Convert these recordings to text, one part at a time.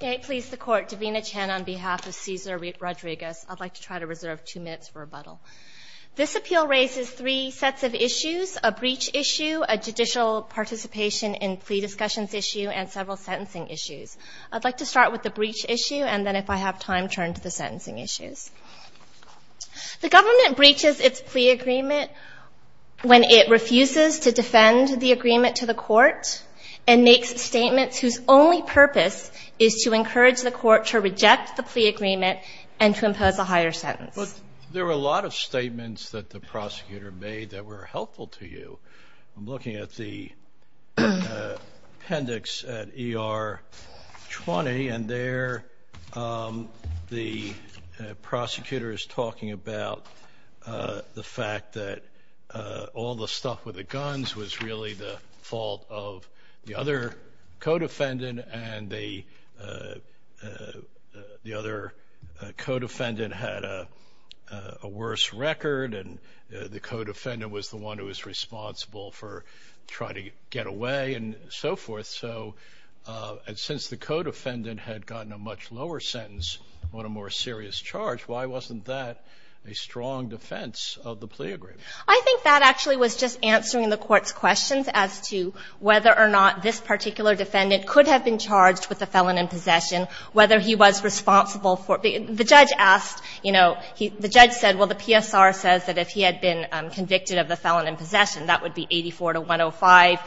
May it please the Court, Davina Chen on behalf of Ceasar Rodriguez. I'd like to try to reserve two minutes for rebuttal. This appeal raises three sets of issues, a breach issue, a judicial participation in plea discussions issue, and several sentencing issues. I'd like to start with the breach issue, and then if I have time, turn to the sentencing issues. The government breaches its plea agreement when it refuses to defend the agreement to the Court and makes statements whose only purpose is to encourage the Court to reject the plea agreement and to impose a higher sentence. There were a lot of statements that the prosecutor made that were helpful to you. I'm looking at the appendix at ER 20, and there the prosecutor is talking about the fact that all the stuff with the guns was really the fault of the other co-defendant, and the other co-defendant had a worse record, and the co-defendant was the one who was responsible for trying to get away and so forth. And since the co-defendant had gotten a much lower sentence on a more serious charge, why wasn't that a strong defense of the plea agreement? I think that actually was just answering the Court's questions as to whether or not this particular defendant could have been charged with a felon in possession, whether he was responsible for it. The judge asked, you know, the judge said, well, the PSR says that if he had been convicted of the felon in possession, that would be 84 to 105.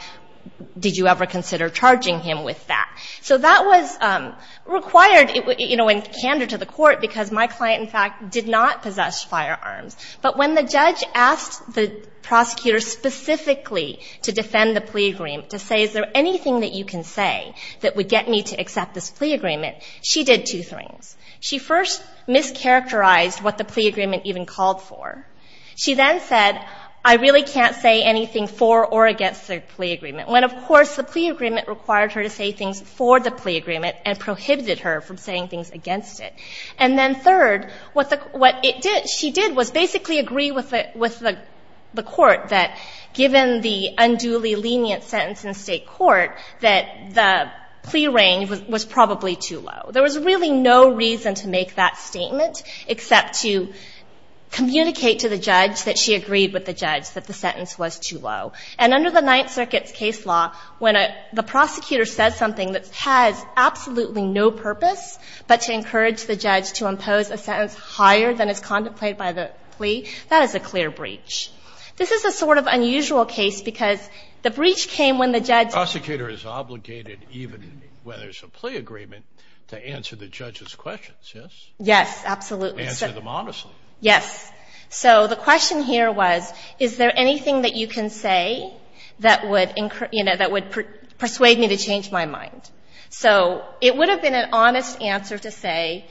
Did you ever consider charging him with that? So that was required, you know, and candid to the Court, because my client, in fact, did not possess firearms. But when the judge asked the prosecutor specifically to defend the plea agreement, to say, is there anything that you can say that would get me to accept this plea agreement, she did two things. She first mischaracterized what the plea agreement even called for. She then said, I really can't say anything for or against the plea agreement, when, of course, the plea agreement required her to say things for the plea agreement and prohibited her from saying things against it. And then third, what it did, she did was basically agree with the Court that given the unduly lenient sentence in State court, that the plea range was probably too low. There was really no reason to make that statement except to communicate to the judge that she agreed with the judge that the sentence was too low. And under the Ninth Circuit's case law, when the prosecutor says something that has absolutely no purpose but to encourage the judge to impose a sentence higher than is contemplated by the plea, that is a clear breach. This is a sort of unusual case because the breach came when the judge ---- Scalia. The prosecutor is obligated, even when there's a plea agreement, to answer the judge's questions, yes? Saharsky. Yes, absolutely. Scalia. Answer them honestly. Saharsky. Yes. So the question here was, is there anything that you can say that would, you know, that would persuade me to change my mind? So it would have been an honest answer to say,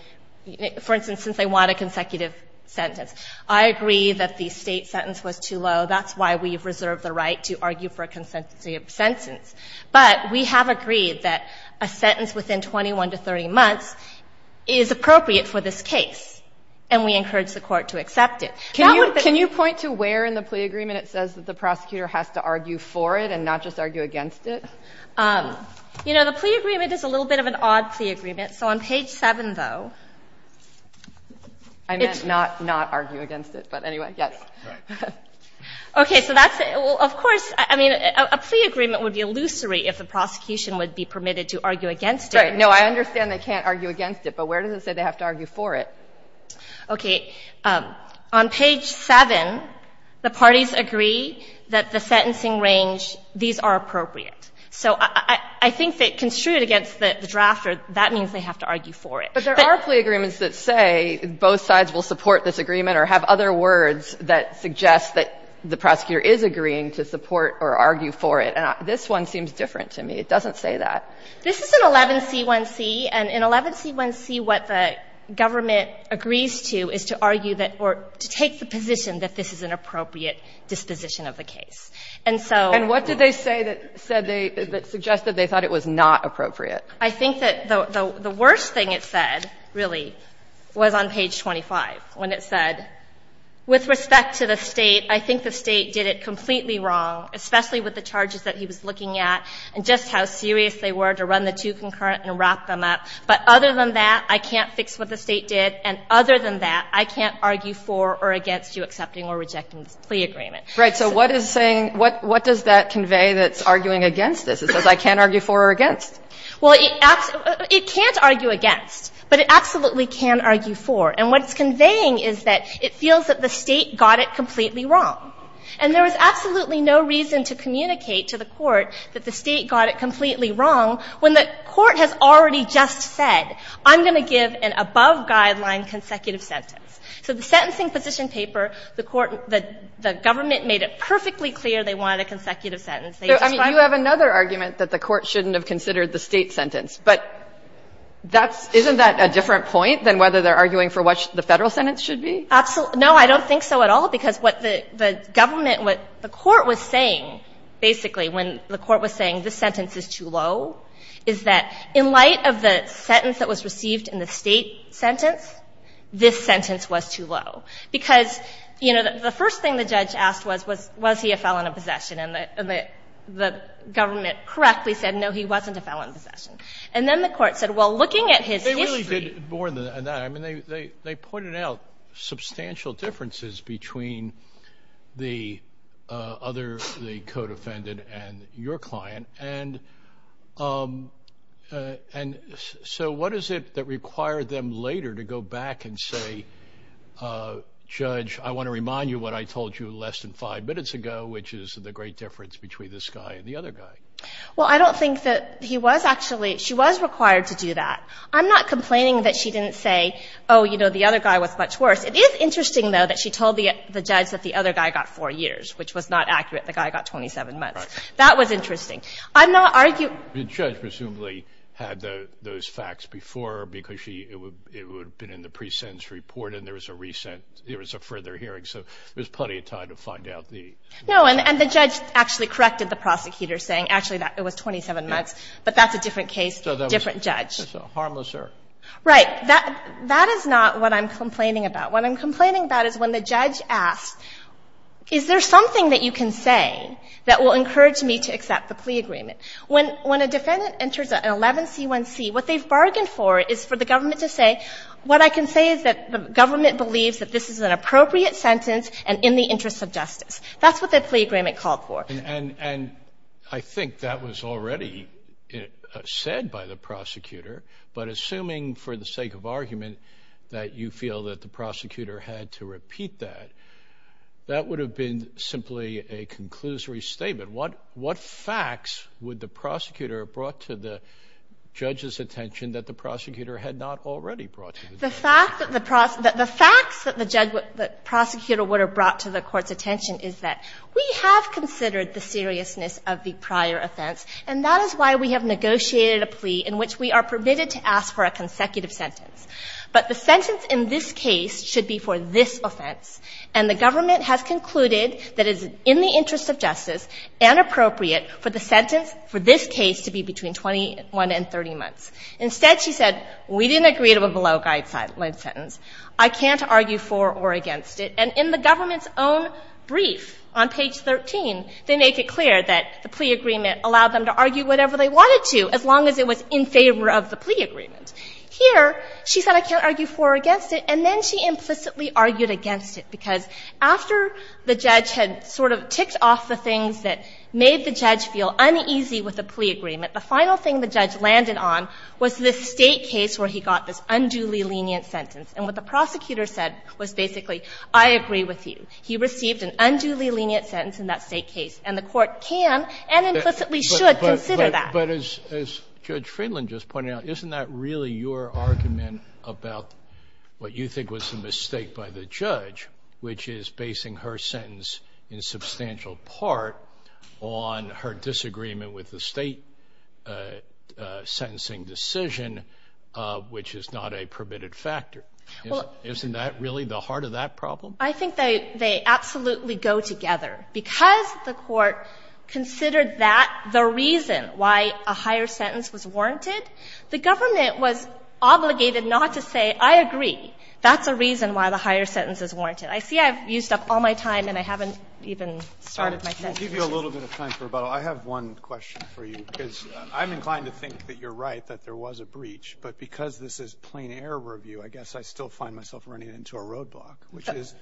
for instance, since I want a consecutive sentence, I agree that the State sentence was too low, that's why we've reserved the right to argue for a consecutive sentence. But we have agreed that a sentence within 21 to 30 months is appropriate for this case, and we encourage the Court to accept it. That would be ---- Can you point to where in the plea agreement it says that the prosecutor has to argue for it and not just argue against it? You know, the plea agreement is a little bit of an odd plea agreement. So on page 7, though, it's ---- I meant not argue against it, but anyway, yes. Right. Okay. So that's ---- well, of course, I mean, a plea agreement would be illusory if the prosecution would be permitted to argue against it. Right. No, I understand they can't argue against it, but where does it say they have to argue for it? Okay. On page 7, the parties agree that the sentencing range, these are appropriate. So I think that construed against the drafter, that means they have to argue for it. But there are plea agreements that say both sides will support this agreement or have other words that suggest that the prosecutor is agreeing to support or argue for it. And this one seems different to me. It doesn't say that. This is an 11C1C, and in 11C1C, what the government agrees to is to argue that or to take the position that this is an appropriate disposition of the case. And so ---- What did they say that said they ---- that suggested they thought it was not appropriate? I think that the worst thing it said, really, was on page 25, when it said, with respect to the State, I think the State did it completely wrong, especially with the charges that he was looking at and just how serious they were to run the two concurrent and wrap them up. But other than that, I can't fix what the State did, and other than that, I can't argue for or against you accepting or rejecting this plea agreement. And so what is saying ---- what does that convey that's arguing against this? It says I can't argue for or against. Well, it can't argue against, but it absolutely can argue for. And what it's conveying is that it feels that the State got it completely wrong. And there was absolutely no reason to communicate to the Court that the State got it completely wrong when the Court has already just said, I'm going to give an above guideline consecutive sentence. So the sentencing position paper, the Court ---- the government made it perfectly clear they wanted a consecutive sentence. They just wanted ---- So, I mean, you have another argument that the Court shouldn't have considered the State sentence. But that's ---- isn't that a different point than whether they're arguing for what the Federal sentence should be? Absolutely. No, I don't think so at all, because what the government ---- what the Court was saying, basically, when the Court was saying this sentence is too low, is that in light of the sentence that was received in the State sentence, this sentence was too low. Because, you know, the first thing the judge asked was, was he a felon of possession? And the government correctly said, no, he wasn't a felon of possession. And then the Court said, well, looking at his history ---- They really did more than that. I mean, they pointed out substantial differences between the other, the co-defendant and your client. And so what is it that required them later to go back and say, Judge, I want to remind you what I told you less than five minutes ago, which is the great difference between this guy and the other guy? Well, I don't think that he was actually ---- she was required to do that. I'm not complaining that she didn't say, oh, you know, the other guy was much worse. It is interesting, though, that she told the judge that the other guy got four years, which was not accurate. The guy got 27 months. That was interesting. I'm not arguing ---- The judge presumably had those facts before because she ---- it would have been in the pre-sentence report, and there was a recent ---- there was a further hearing. So there's plenty of time to find out the ---- No. And the judge actually corrected the prosecutor, saying, actually, it was 27 months. But that's a different case, different judge. Harmlesser. Right. That is not what I'm complaining about. What I'm complaining about is when the judge asked, is there something that you can say that will encourage me to accept the plea agreement? When a defendant enters an 11C1C, what they've bargained for is for the government to say, what I can say is that the government believes that this is an appropriate sentence and in the interest of justice. That's what the plea agreement called for. And I think that was already said by the prosecutor. But assuming for the sake of argument that you feel that the prosecutor had to repeat that, that would have been simply a conclusory statement. What facts would the prosecutor have brought to the judge's attention that the prosecutor had not already brought to the judge's attention? The fact that the prosecutor would have brought to the court's attention is that we have considered the seriousness of the prior offense, and that is why we have permitted to ask for a consecutive sentence. But the sentence in this case should be for this offense, and the government has concluded that it is in the interest of justice and appropriate for the sentence for this case to be between 21 and 30 months. Instead, she said, we didn't agree to a below-guide sentence. I can't argue for or against it. And in the government's own brief on page 13, they make it clear that the plea agreement allowed them to argue whatever they wanted to as long as it was in favor of the plea agreement. Here, she said, I can't argue for or against it, and then she implicitly argued against it, because after the judge had sort of ticked off the things that made the judge feel uneasy with the plea agreement, the final thing the judge landed on was this State case where he got this unduly lenient sentence. And what the prosecutor said was basically, I agree with you. He received an unduly lenient sentence in that State case. And the Court can and implicitly should consider that. But as Judge Friedland just pointed out, isn't that really your argument about what you think was the mistake by the judge, which is basing her sentence in substantial part on her disagreement with the State sentencing decision, which is not a permitted factor? Isn't that really the heart of that problem? I think they absolutely go together. Because the Court considered that the reason why a higher sentence was warranted, the government was obligated not to say, I agree, that's a reason why the higher sentence is warranted. I see I've used up all my time and I haven't even started my sentence. I'll give you a little bit of time for rebuttal. I have one question for you, because I'm inclined to think that you're right, that there was a breach, but because this is plain error review, I guess I still find myself running into a roadblock, which is,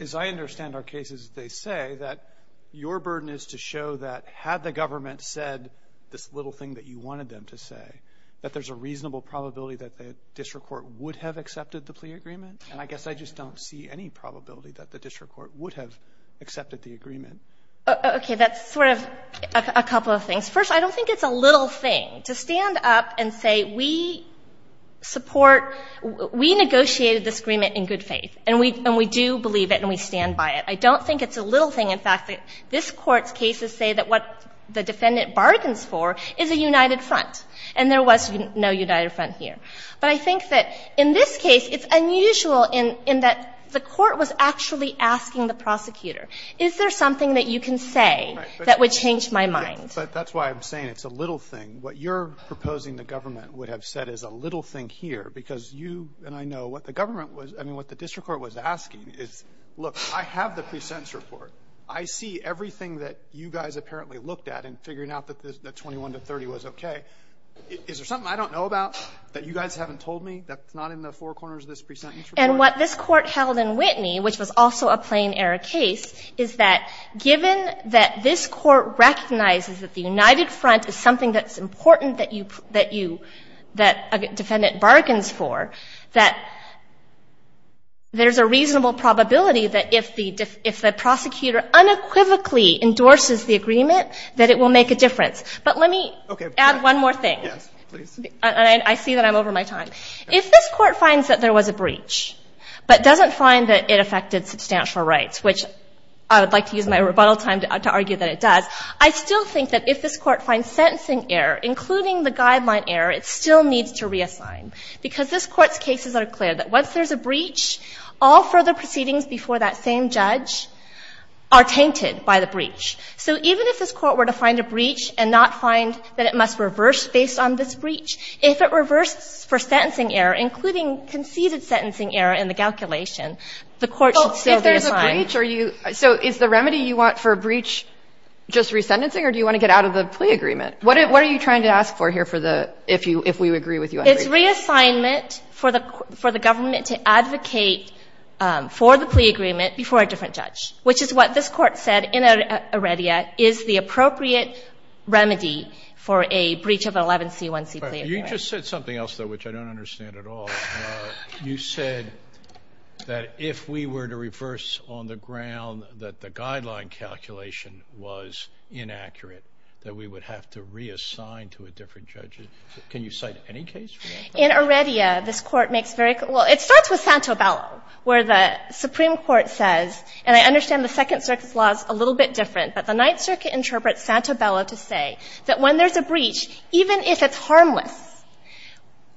as I understand our cases, they say that your burden is to show that had the government said this little thing that you wanted them to say, that there's a reasonable probability that the district court would have accepted the plea agreement. And I guess I just don't see any probability that the district court would have accepted the agreement. Okay. That's sort of a couple of things. First, I don't think it's a little thing. To stand up and say we support, we negotiated this agreement in good faith and we do believe it and we stand by it, I don't think it's a little thing. In fact, this Court's cases say that what the defendant bargains for is a united front, and there was no united front here. But I think that in this case, it's unusual in that the Court was actually asking the prosecutor, is there something that you can say that would change my mind? But that's why I'm saying it's a little thing. What you're proposing the government would have said is a little thing here, because you, and I know what the government was, I mean, what the district court was asking is, look, I have the pre-sentence report. I see everything that you guys apparently looked at in figuring out that 21 to 30 was okay. Is there something I don't know about that you guys haven't told me that's not in the four corners of this pre-sentence report? And what this Court held in Whitney, which was also a plain-error case, is that given that this Court recognizes that the united front is something that's important that you, that a defendant bargains for, that there's a reasonable probability that if the prosecutor unequivocally endorses the agreement, that it will make a difference. But let me add one more thing. And I see that I'm over my time. If this Court finds that there was a breach, but doesn't find that it affected substantial rights, which I would like to use my rebuttal time to argue that it does, I still think that if this Court finds sentencing error, including the guideline error, it still needs to reassign. Because this Court's cases are clear that once there's a breach, all further proceedings before that same judge are tainted by the breach. So even if this Court were to find a breach and not find that it must reverse based on this breach, if it reverses for sentencing error, including conceded sentencing error in the calculation, the Court should still reassign. So if there's a breach, are you – so is the remedy you want for a breach just resentencing, or do you want to get out of the plea agreement? What are you trying to ask for here for the – if you – if we agree with you on the breach? It's reassignment for the government to advocate for the plea agreement before a different judge, which is what this Court said in Iredia is the appropriate remedy for a breach of an 11c1c plea agreement. You just said something else, though, which I don't understand at all. You said that if we were to reverse on the ground that the guideline calculation was inaccurate, that we would have to reassign to a different judge. Can you cite any case for that? In Iredia, this Court makes very – well, it starts with Santobello, where the Supreme Court says, and I understand the Second Circuit's law is a little bit different, but the Ninth Circuit interprets Santobello to say that when there's a breach, even if it's harmless,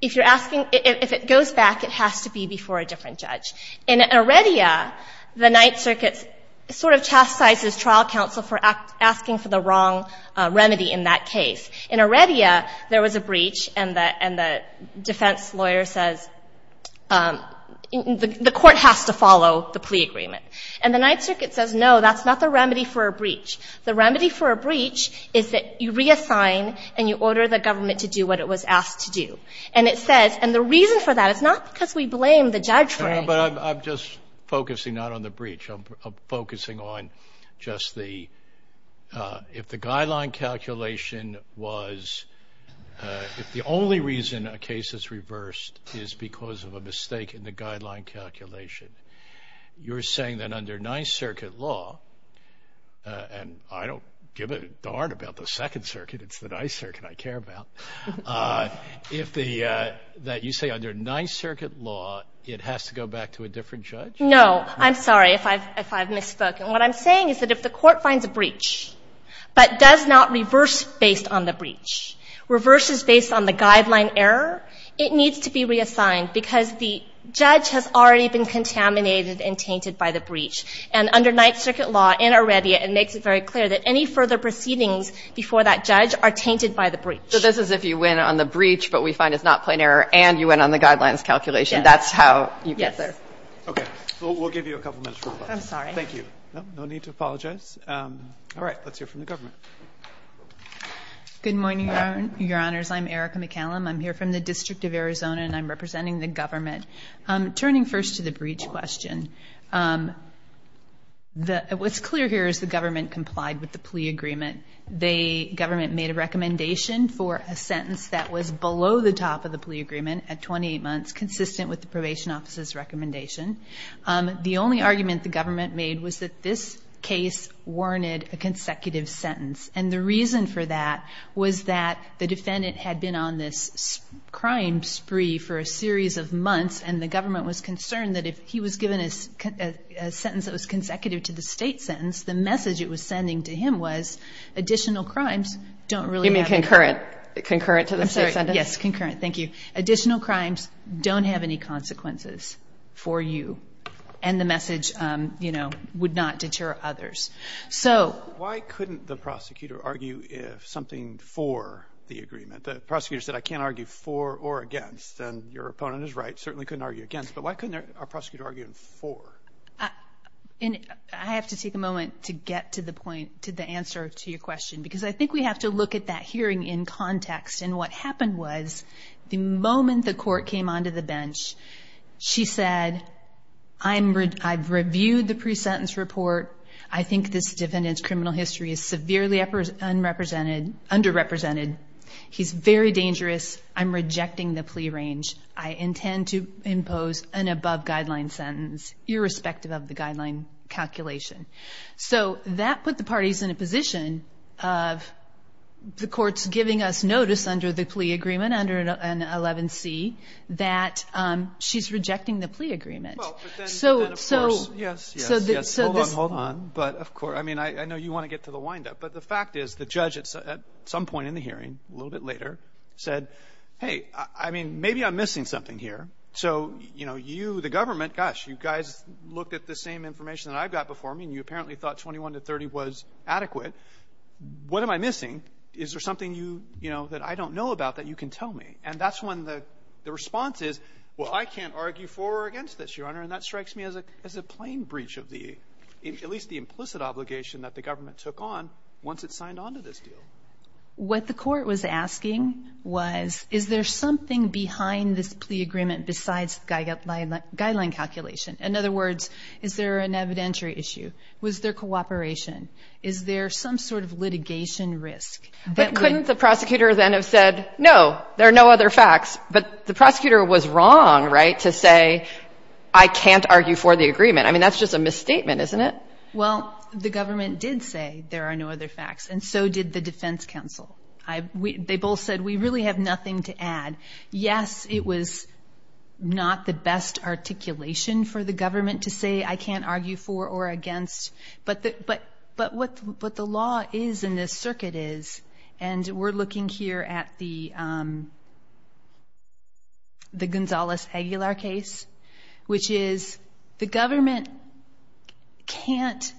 if you're asking – if it goes back, it has to be before a different judge. In Iredia, the Ninth Circuit sort of chastises trial counsel for asking for the wrong remedy in that case. In Iredia, there was a breach, and the defense lawyer says the Court has to follow the plea agreement. And the Ninth Circuit says, no, that's not the remedy for a breach. The remedy for a breach is that you reassign and you order the government to do what it was asked to do. And it says – and the reason for that is not because we blame the judge for it. But I'm just focusing not on the breach. I'm focusing on just the – if the guideline calculation was – if the only reason a case is reversed is because of a mistake in the guideline calculation, you're saying that under Ninth Circuit law – and I don't give a darn about the Second Circuit. It's the Ninth Circuit I care about. If the – that you say under Ninth Circuit law, it has to go back to a different judge? No. I'm sorry if I've – if I've misspoke. And what I'm saying is that if the Court finds a breach but does not reverse based on the breach, reverses based on the guideline error, it needs to be reassigned because the judge has already been contaminated and tainted by the breach. And under Ninth Circuit law, in Arredia, it makes it very clear that any further proceedings before that judge are tainted by the breach. So this is if you win on the breach but we find it's not plain error and you win on the guidelines calculation. Yes. That's how you get there. Yes. Okay. We'll give you a couple minutes for questions. I'm sorry. Thank you. No need to apologize. All right. Let's hear from the government. Good morning, Your Honors. I'm Erica McCallum. I'm here from the District of Arizona and I'm representing the government. Turning first to the breach question, the – what's clear here is the government complied with the plea agreement. They – government made a recommendation for a sentence that was below the top of the plea agreement at 28 months consistent with the Probation Office's recommendation. The only argument the government made was that this case warranted a consecutive sentence. And the reason for that was that the defendant had been on this crime spree for a series of months and the government was concerned that if he was given a sentence that was consecutive to the State sentence, the message it was sending to him was additional crimes don't really have – You mean concurrent? Concurrent to the State sentence? I'm sorry. Yes, concurrent. Thank you. Additional crimes don't have any consequences for you. And the message, you know, would not deter others. So – Why couldn't the prosecutor argue if something for the agreement? The prosecutor said, I can't argue for or against. And your opponent is right. Certainly couldn't argue against. But why couldn't our prosecutor argue for? I have to take a moment to get to the point, to the answer to your question. Because I think we have to look at that hearing in context. And what happened was the moment the court came onto the bench, she said, I'm – I've reviewed the pre-sentence report. I think this defendant's criminal history is severely underrepresented. He's very dangerous. I'm rejecting the plea range. I intend to impose an above-guideline sentence, irrespective of the guideline calculation. So that put the parties in a position of the courts giving us notice under the plea agreement, under an 11C, that she's rejecting the plea agreement. Well, but then, of course, yes, yes, yes. But, of course, I mean, I know you want to get to the windup. But the fact is the judge at some point in the hearing, a little bit later, said, hey, I mean, maybe I'm missing something here. So, you know, you, the government, gosh, you guys looked at the same information that I've got before me, and you apparently thought 21 to 30 was adequate. What am I missing? Is there something, you know, that I don't know about that you can tell me? And that's when the response is, well, I can't argue for or against this, Your Honor. And that strikes me as a plain breach of the, at least the implicit obligation that the government took on once it signed on to this deal. What the court was asking was, is there something behind this plea agreement besides guideline calculation? In other words, is there an evidentiary issue? Was there cooperation? Is there some sort of litigation risk? But couldn't the prosecutor then have said, no, there are no other facts? But the prosecutor was wrong, right, to say, I can't argue for the agreement. I mean, that's just a misstatement, isn't it? Well, the government did say there are no other facts, and so did the defense counsel. They both said, we really have nothing to add. Yes, it was not the best articulation for the government to say I can't argue for or against. But what the law is in this circuit is, and we're looking here at the Gonzales-Aguilar case, which is the government can't,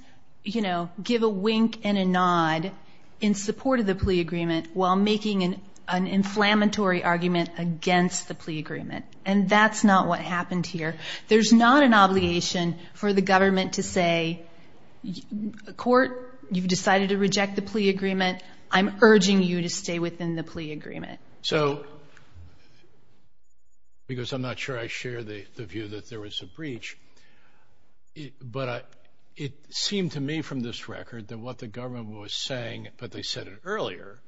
you know, give a wink and a nod in support of the plea agreement while making an inflammatory argument against the plea agreement. And that's not what happened here. There's not an obligation for the government to say, court, you've decided to reject the plea agreement. I'm urging you to stay within the plea agreement. So, because I'm not sure I share the view that there was a breach, but it seemed to me from this record that what the government was saying, but they said it earlier,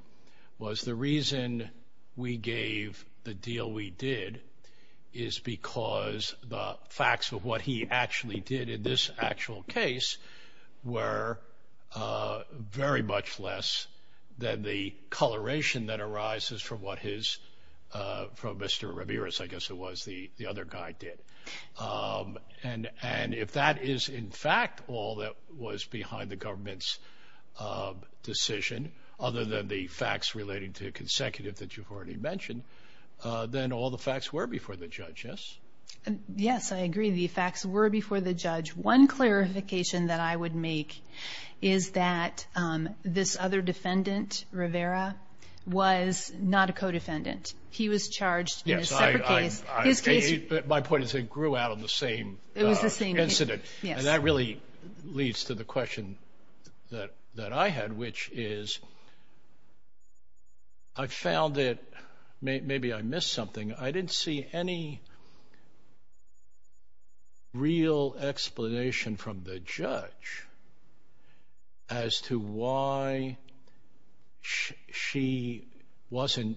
was the reason we gave the deal we did is because the facts of what he actually did in this actual case were very much less than the coloration that arises from what his, from Mr. Ramirez, I guess it was, the other guy did. And if that is, in fact, all that was behind the government's decision, other than the facts relating to consecutive that you've already mentioned, then all the facts were before the judge, yes? Yes, I agree. The facts were before the judge. One clarification that I would make is that this other defendant, Rivera, was not a co-defendant. He was charged in a separate case. My point is they grew out of the same incident. And that really leads to the question that I had, which is, I found that maybe I missed something. I didn't see any real explanation from the judge as to why she wasn't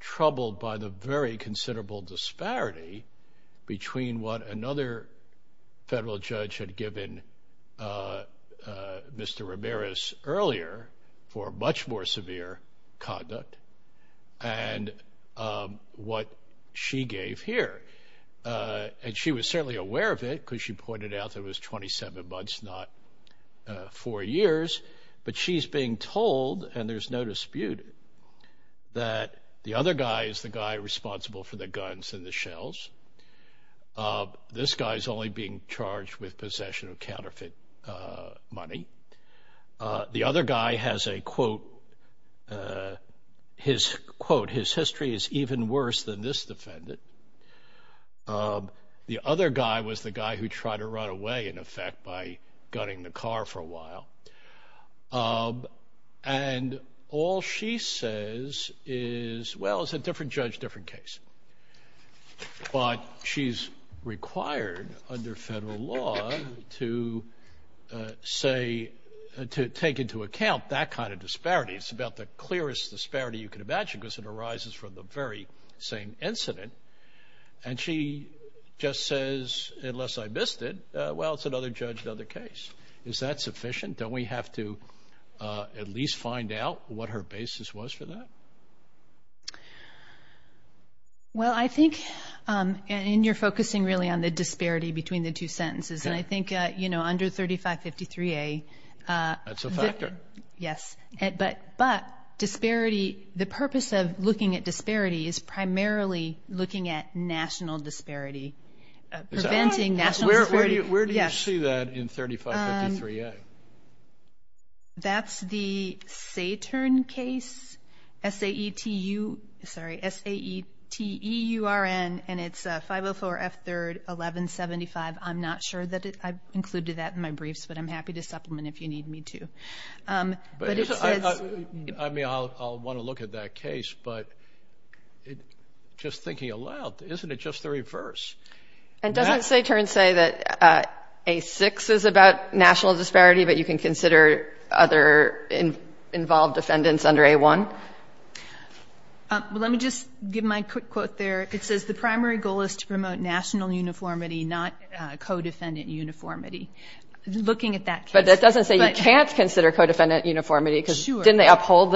troubled by the very considerable disparity between what another federal judge had given Mr. Ramirez earlier for a much more severe conduct and what she gave here. And she was certainly aware of it because she pointed out that it was 27 months, not four years. But she's being told, and there's no dispute, that the other guy is the guy responsible for the guns and the shells. This guy is only being charged with possession of counterfeit money. The other guy has a quote, his quote, his history is even worse than this defendant. The other guy was the guy who tried to run away, in effect, by gunning the car for a while. And all she says is, well, it's a different judge, different case. But she's required under federal law to say, to take into account that kind of disparity. It's about the clearest disparity you can imagine because it arises from the very same incident. And she just says, unless I missed it, well, it's another judge, another case. Is that sufficient? Don't we have to at least find out what her basis was for that? Well, I think, and you're focusing really on the disparity between the two sentences. And I think, you know, under 3553A. That's a factor. Yes. But disparity, the purpose of looking at disparity is primarily looking at national disparity. Preventing national disparity. Where do you see that in 3553A? That's the Satern case. S-A-E-T-U, sorry, S-A-E-T-E-U-R-N. And it's 504 F3rd 1175. I'm not sure that I've included that in my briefs. But I'm happy to supplement if you need me to. I mean, I'll want to look at that case. But just thinking aloud, isn't it just the reverse? And doesn't Satern say that A6 is about national disparity, but you can consider other involved defendants under A1? Well, let me just give my quick quote there. It says, The primary goal is to promote national uniformity, not co-defendant uniformity. Looking at that case. But that doesn't say you can't consider co-defendant uniformity. Sure. Because didn't they uphold,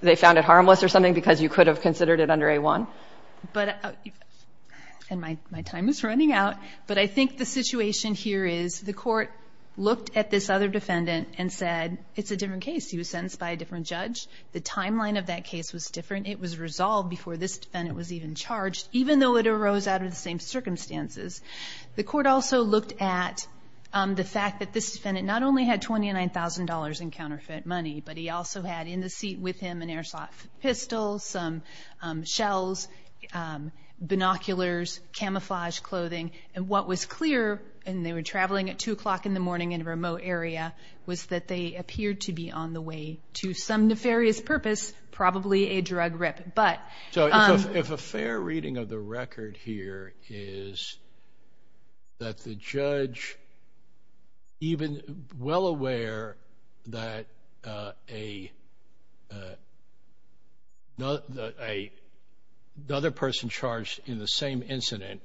they found it harmless or something, because you could have considered it under A1? And my time is running out. But I think the situation here is, the court looked at this other defendant and said, It's a different case. He was sentenced by a different judge. The timeline of that case was different. It was resolved before this defendant was even charged, even though it arose out of the same circumstances. The court also looked at the fact that this defendant not only had $29,000 in counterfeit money, but he also had in the seat with him an airsoft pistol, some shells, binoculars, camouflage clothing. And what was clear, and they were traveling at 2 o'clock in the morning in a remote area, was that they appeared to be on the way to some nefarious purpose, probably a drug rip. So if a fair reading of the record here is that the judge, even well aware that another person charged in the same incident,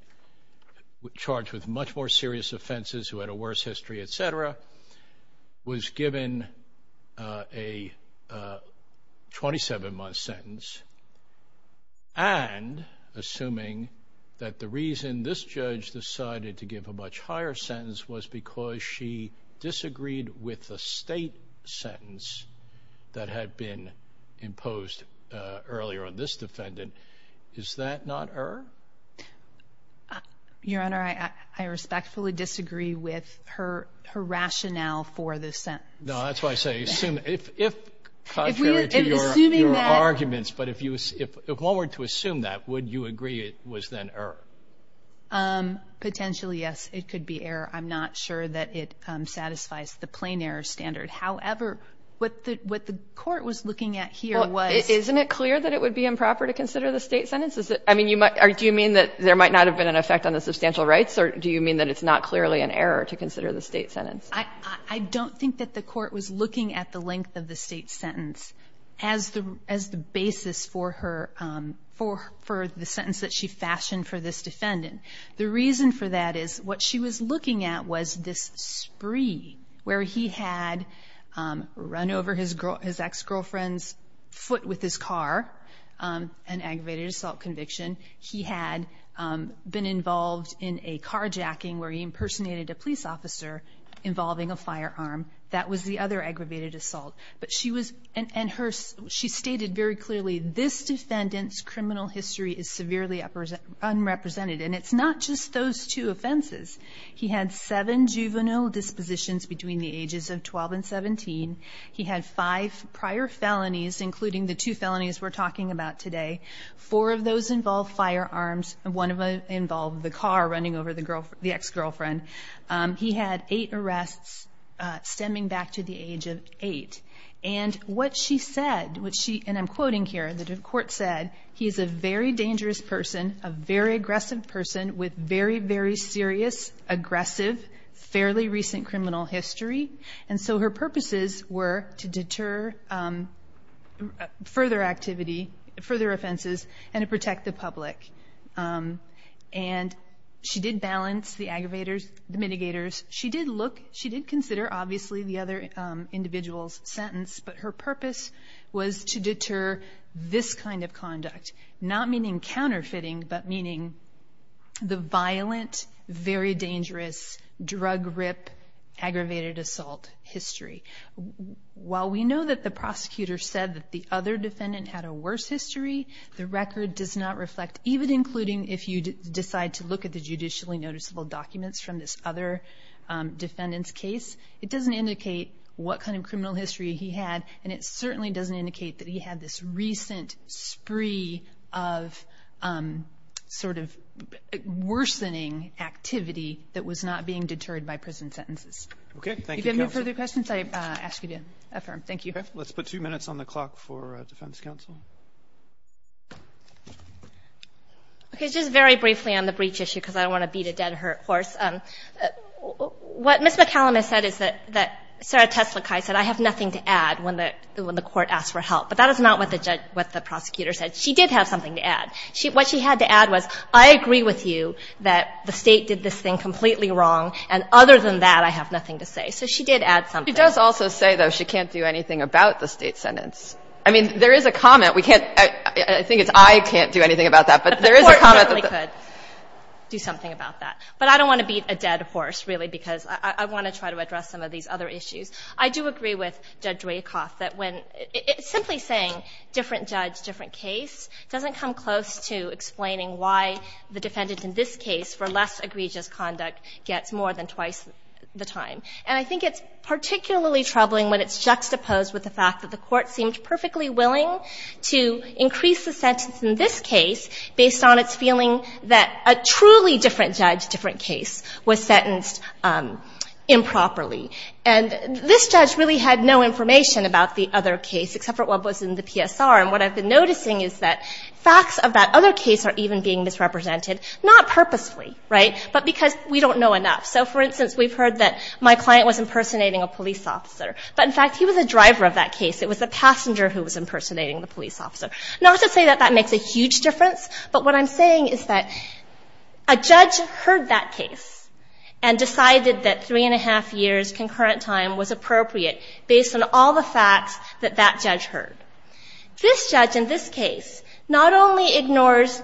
charged with much more serious offenses, who had a worse history, et cetera, was given a 27-month sentence, and assuming that the reason this judge decided to give a much higher sentence was because she disagreed with the state sentence that had been imposed earlier on this defendant, is that not error? Your Honor, I respectfully disagree with her rationale for this sentence. No, that's why I say, contrary to your arguments, but if one were to assume that, would you agree it was then error? Potentially, yes, it could be error. I'm not sure that it satisfies the plain error standard. However, what the court was looking at here was – Well, isn't it clear that it would be improper to consider the state sentence? I mean, do you mean that there might not have been an effect on the substantial rights, or do you mean that it's not clearly an error to consider the state sentence? I don't think that the court was looking at the length of the state sentence as the basis for the sentence that she fashioned for this defendant. The reason for that is what she was looking at was this spree, where he had run over his ex-girlfriend's foot with his car, an aggravated assault conviction. He had been involved in a carjacking where he impersonated a police officer involving a firearm. That was the other aggravated assault. She stated very clearly, this defendant's criminal history is severely unrepresented, and it's not just those two offenses. He had seven juvenile dispositions between the ages of 12 and 17. He had five prior felonies, including the two felonies we're talking about today. Four of those involved firearms, and one of them involved the car running over the ex-girlfriend. He had eight arrests, stemming back to the age of eight. And what she said, and I'm quoting here, the court said, he's a very dangerous person, a very aggressive person, with very, very serious, aggressive, fairly recent criminal history. And so her purposes were to deter further activity, further offenses, and to protect the public. And she did balance the aggravators, the mitigators. She did consider, obviously, the other individual's sentence, but her purpose was to deter this kind of conduct, not meaning counterfeiting, but meaning the violent, very dangerous, drug-rip, aggravated assault history. While we know that the prosecutor said that the other defendant had a worse history, the record does not reflect, even including if you decide to look at the judicially noticeable documents from this other defendant's case, it doesn't indicate what kind of criminal history he had, and it certainly doesn't indicate that he had this recent spree of sort of worsening activity that was not being deterred by prison sentences. Okay, thank you, counsel. If you have any further questions, I ask you to affirm. Thank you. Okay, let's put two minutes on the clock for defense counsel. Okay, just very briefly on the breach issue, because I don't want to beat a dead horse. What Ms. McCallum has said is that Sarah Teslukai said, I have nothing to add when the court asked for help. But that is not what the prosecutor said. She did have something to add. What she had to add was, I agree with you that the State did this thing completely wrong, and other than that, I have nothing to say. So she did add something. She does also say, though, she can't do anything about the State sentence. I mean, there is a comment. We can't – I think it's, I can't do anything about that. But there is a comment that the – The Court certainly could do something about that. But I don't want to beat a dead horse, really, because I want to try to address some of these other issues. I do agree with Judge Rakoff that when – simply saying different judge, different case doesn't come close to explaining why the defendant in this case, for less egregious conduct, gets more than twice the time. And I think it's particularly troubling when it's juxtaposed with the fact that the Court seemed perfectly willing to increase the sentence in this case based on its feeling that a truly different judge, different case was sentenced improperly. And this judge really had no information about the other case except for what was in the PSR. And what I've been noticing is that facts of that other case are even being misrepresented, not purposefully, right, but because we don't know enough. So, for instance, we've heard that my client was impersonating a police officer. But, in fact, he was a driver of that case. It was the passenger who was impersonating the police officer. Not to say that that makes a huge difference, but what I'm saying is that a judge heard that case and decided that three and a half years concurrent time was appropriate based on all the facts that that judge heard. This judge in this case not only ignores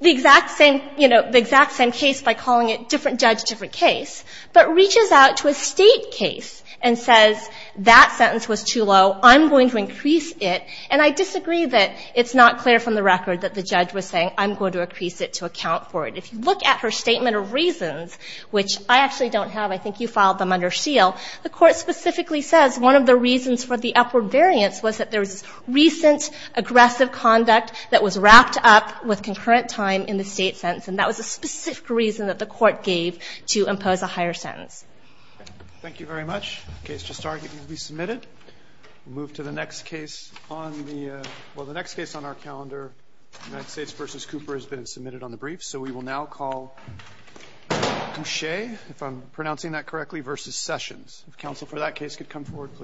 the exact same – you know, the exact same case by calling it different judge, different case, but reaches out to a State case and says, that sentence was too low. I'm going to increase it. And I disagree that it's not clear from the record that the judge was saying, I'm going to increase it to account for it. If you look at her statement of reasons, which I actually don't have. I think you filed them under seal. The Court specifically says one of the reasons for the upward variance was that there was recent aggressive conduct that was wrapped up with concurrent time in the State sentence. And that was a specific reason that the Court gave to impose a higher sentence. Thank you very much. Case just started. It will be submitted. We'll move to the next case on the – well, the next case on our calendar, United States v. Cooper, has been submitted on the briefs. So we will now call Duche, if I'm pronouncing that correctly, v. Sessions. If counsel for that case could come forward, please.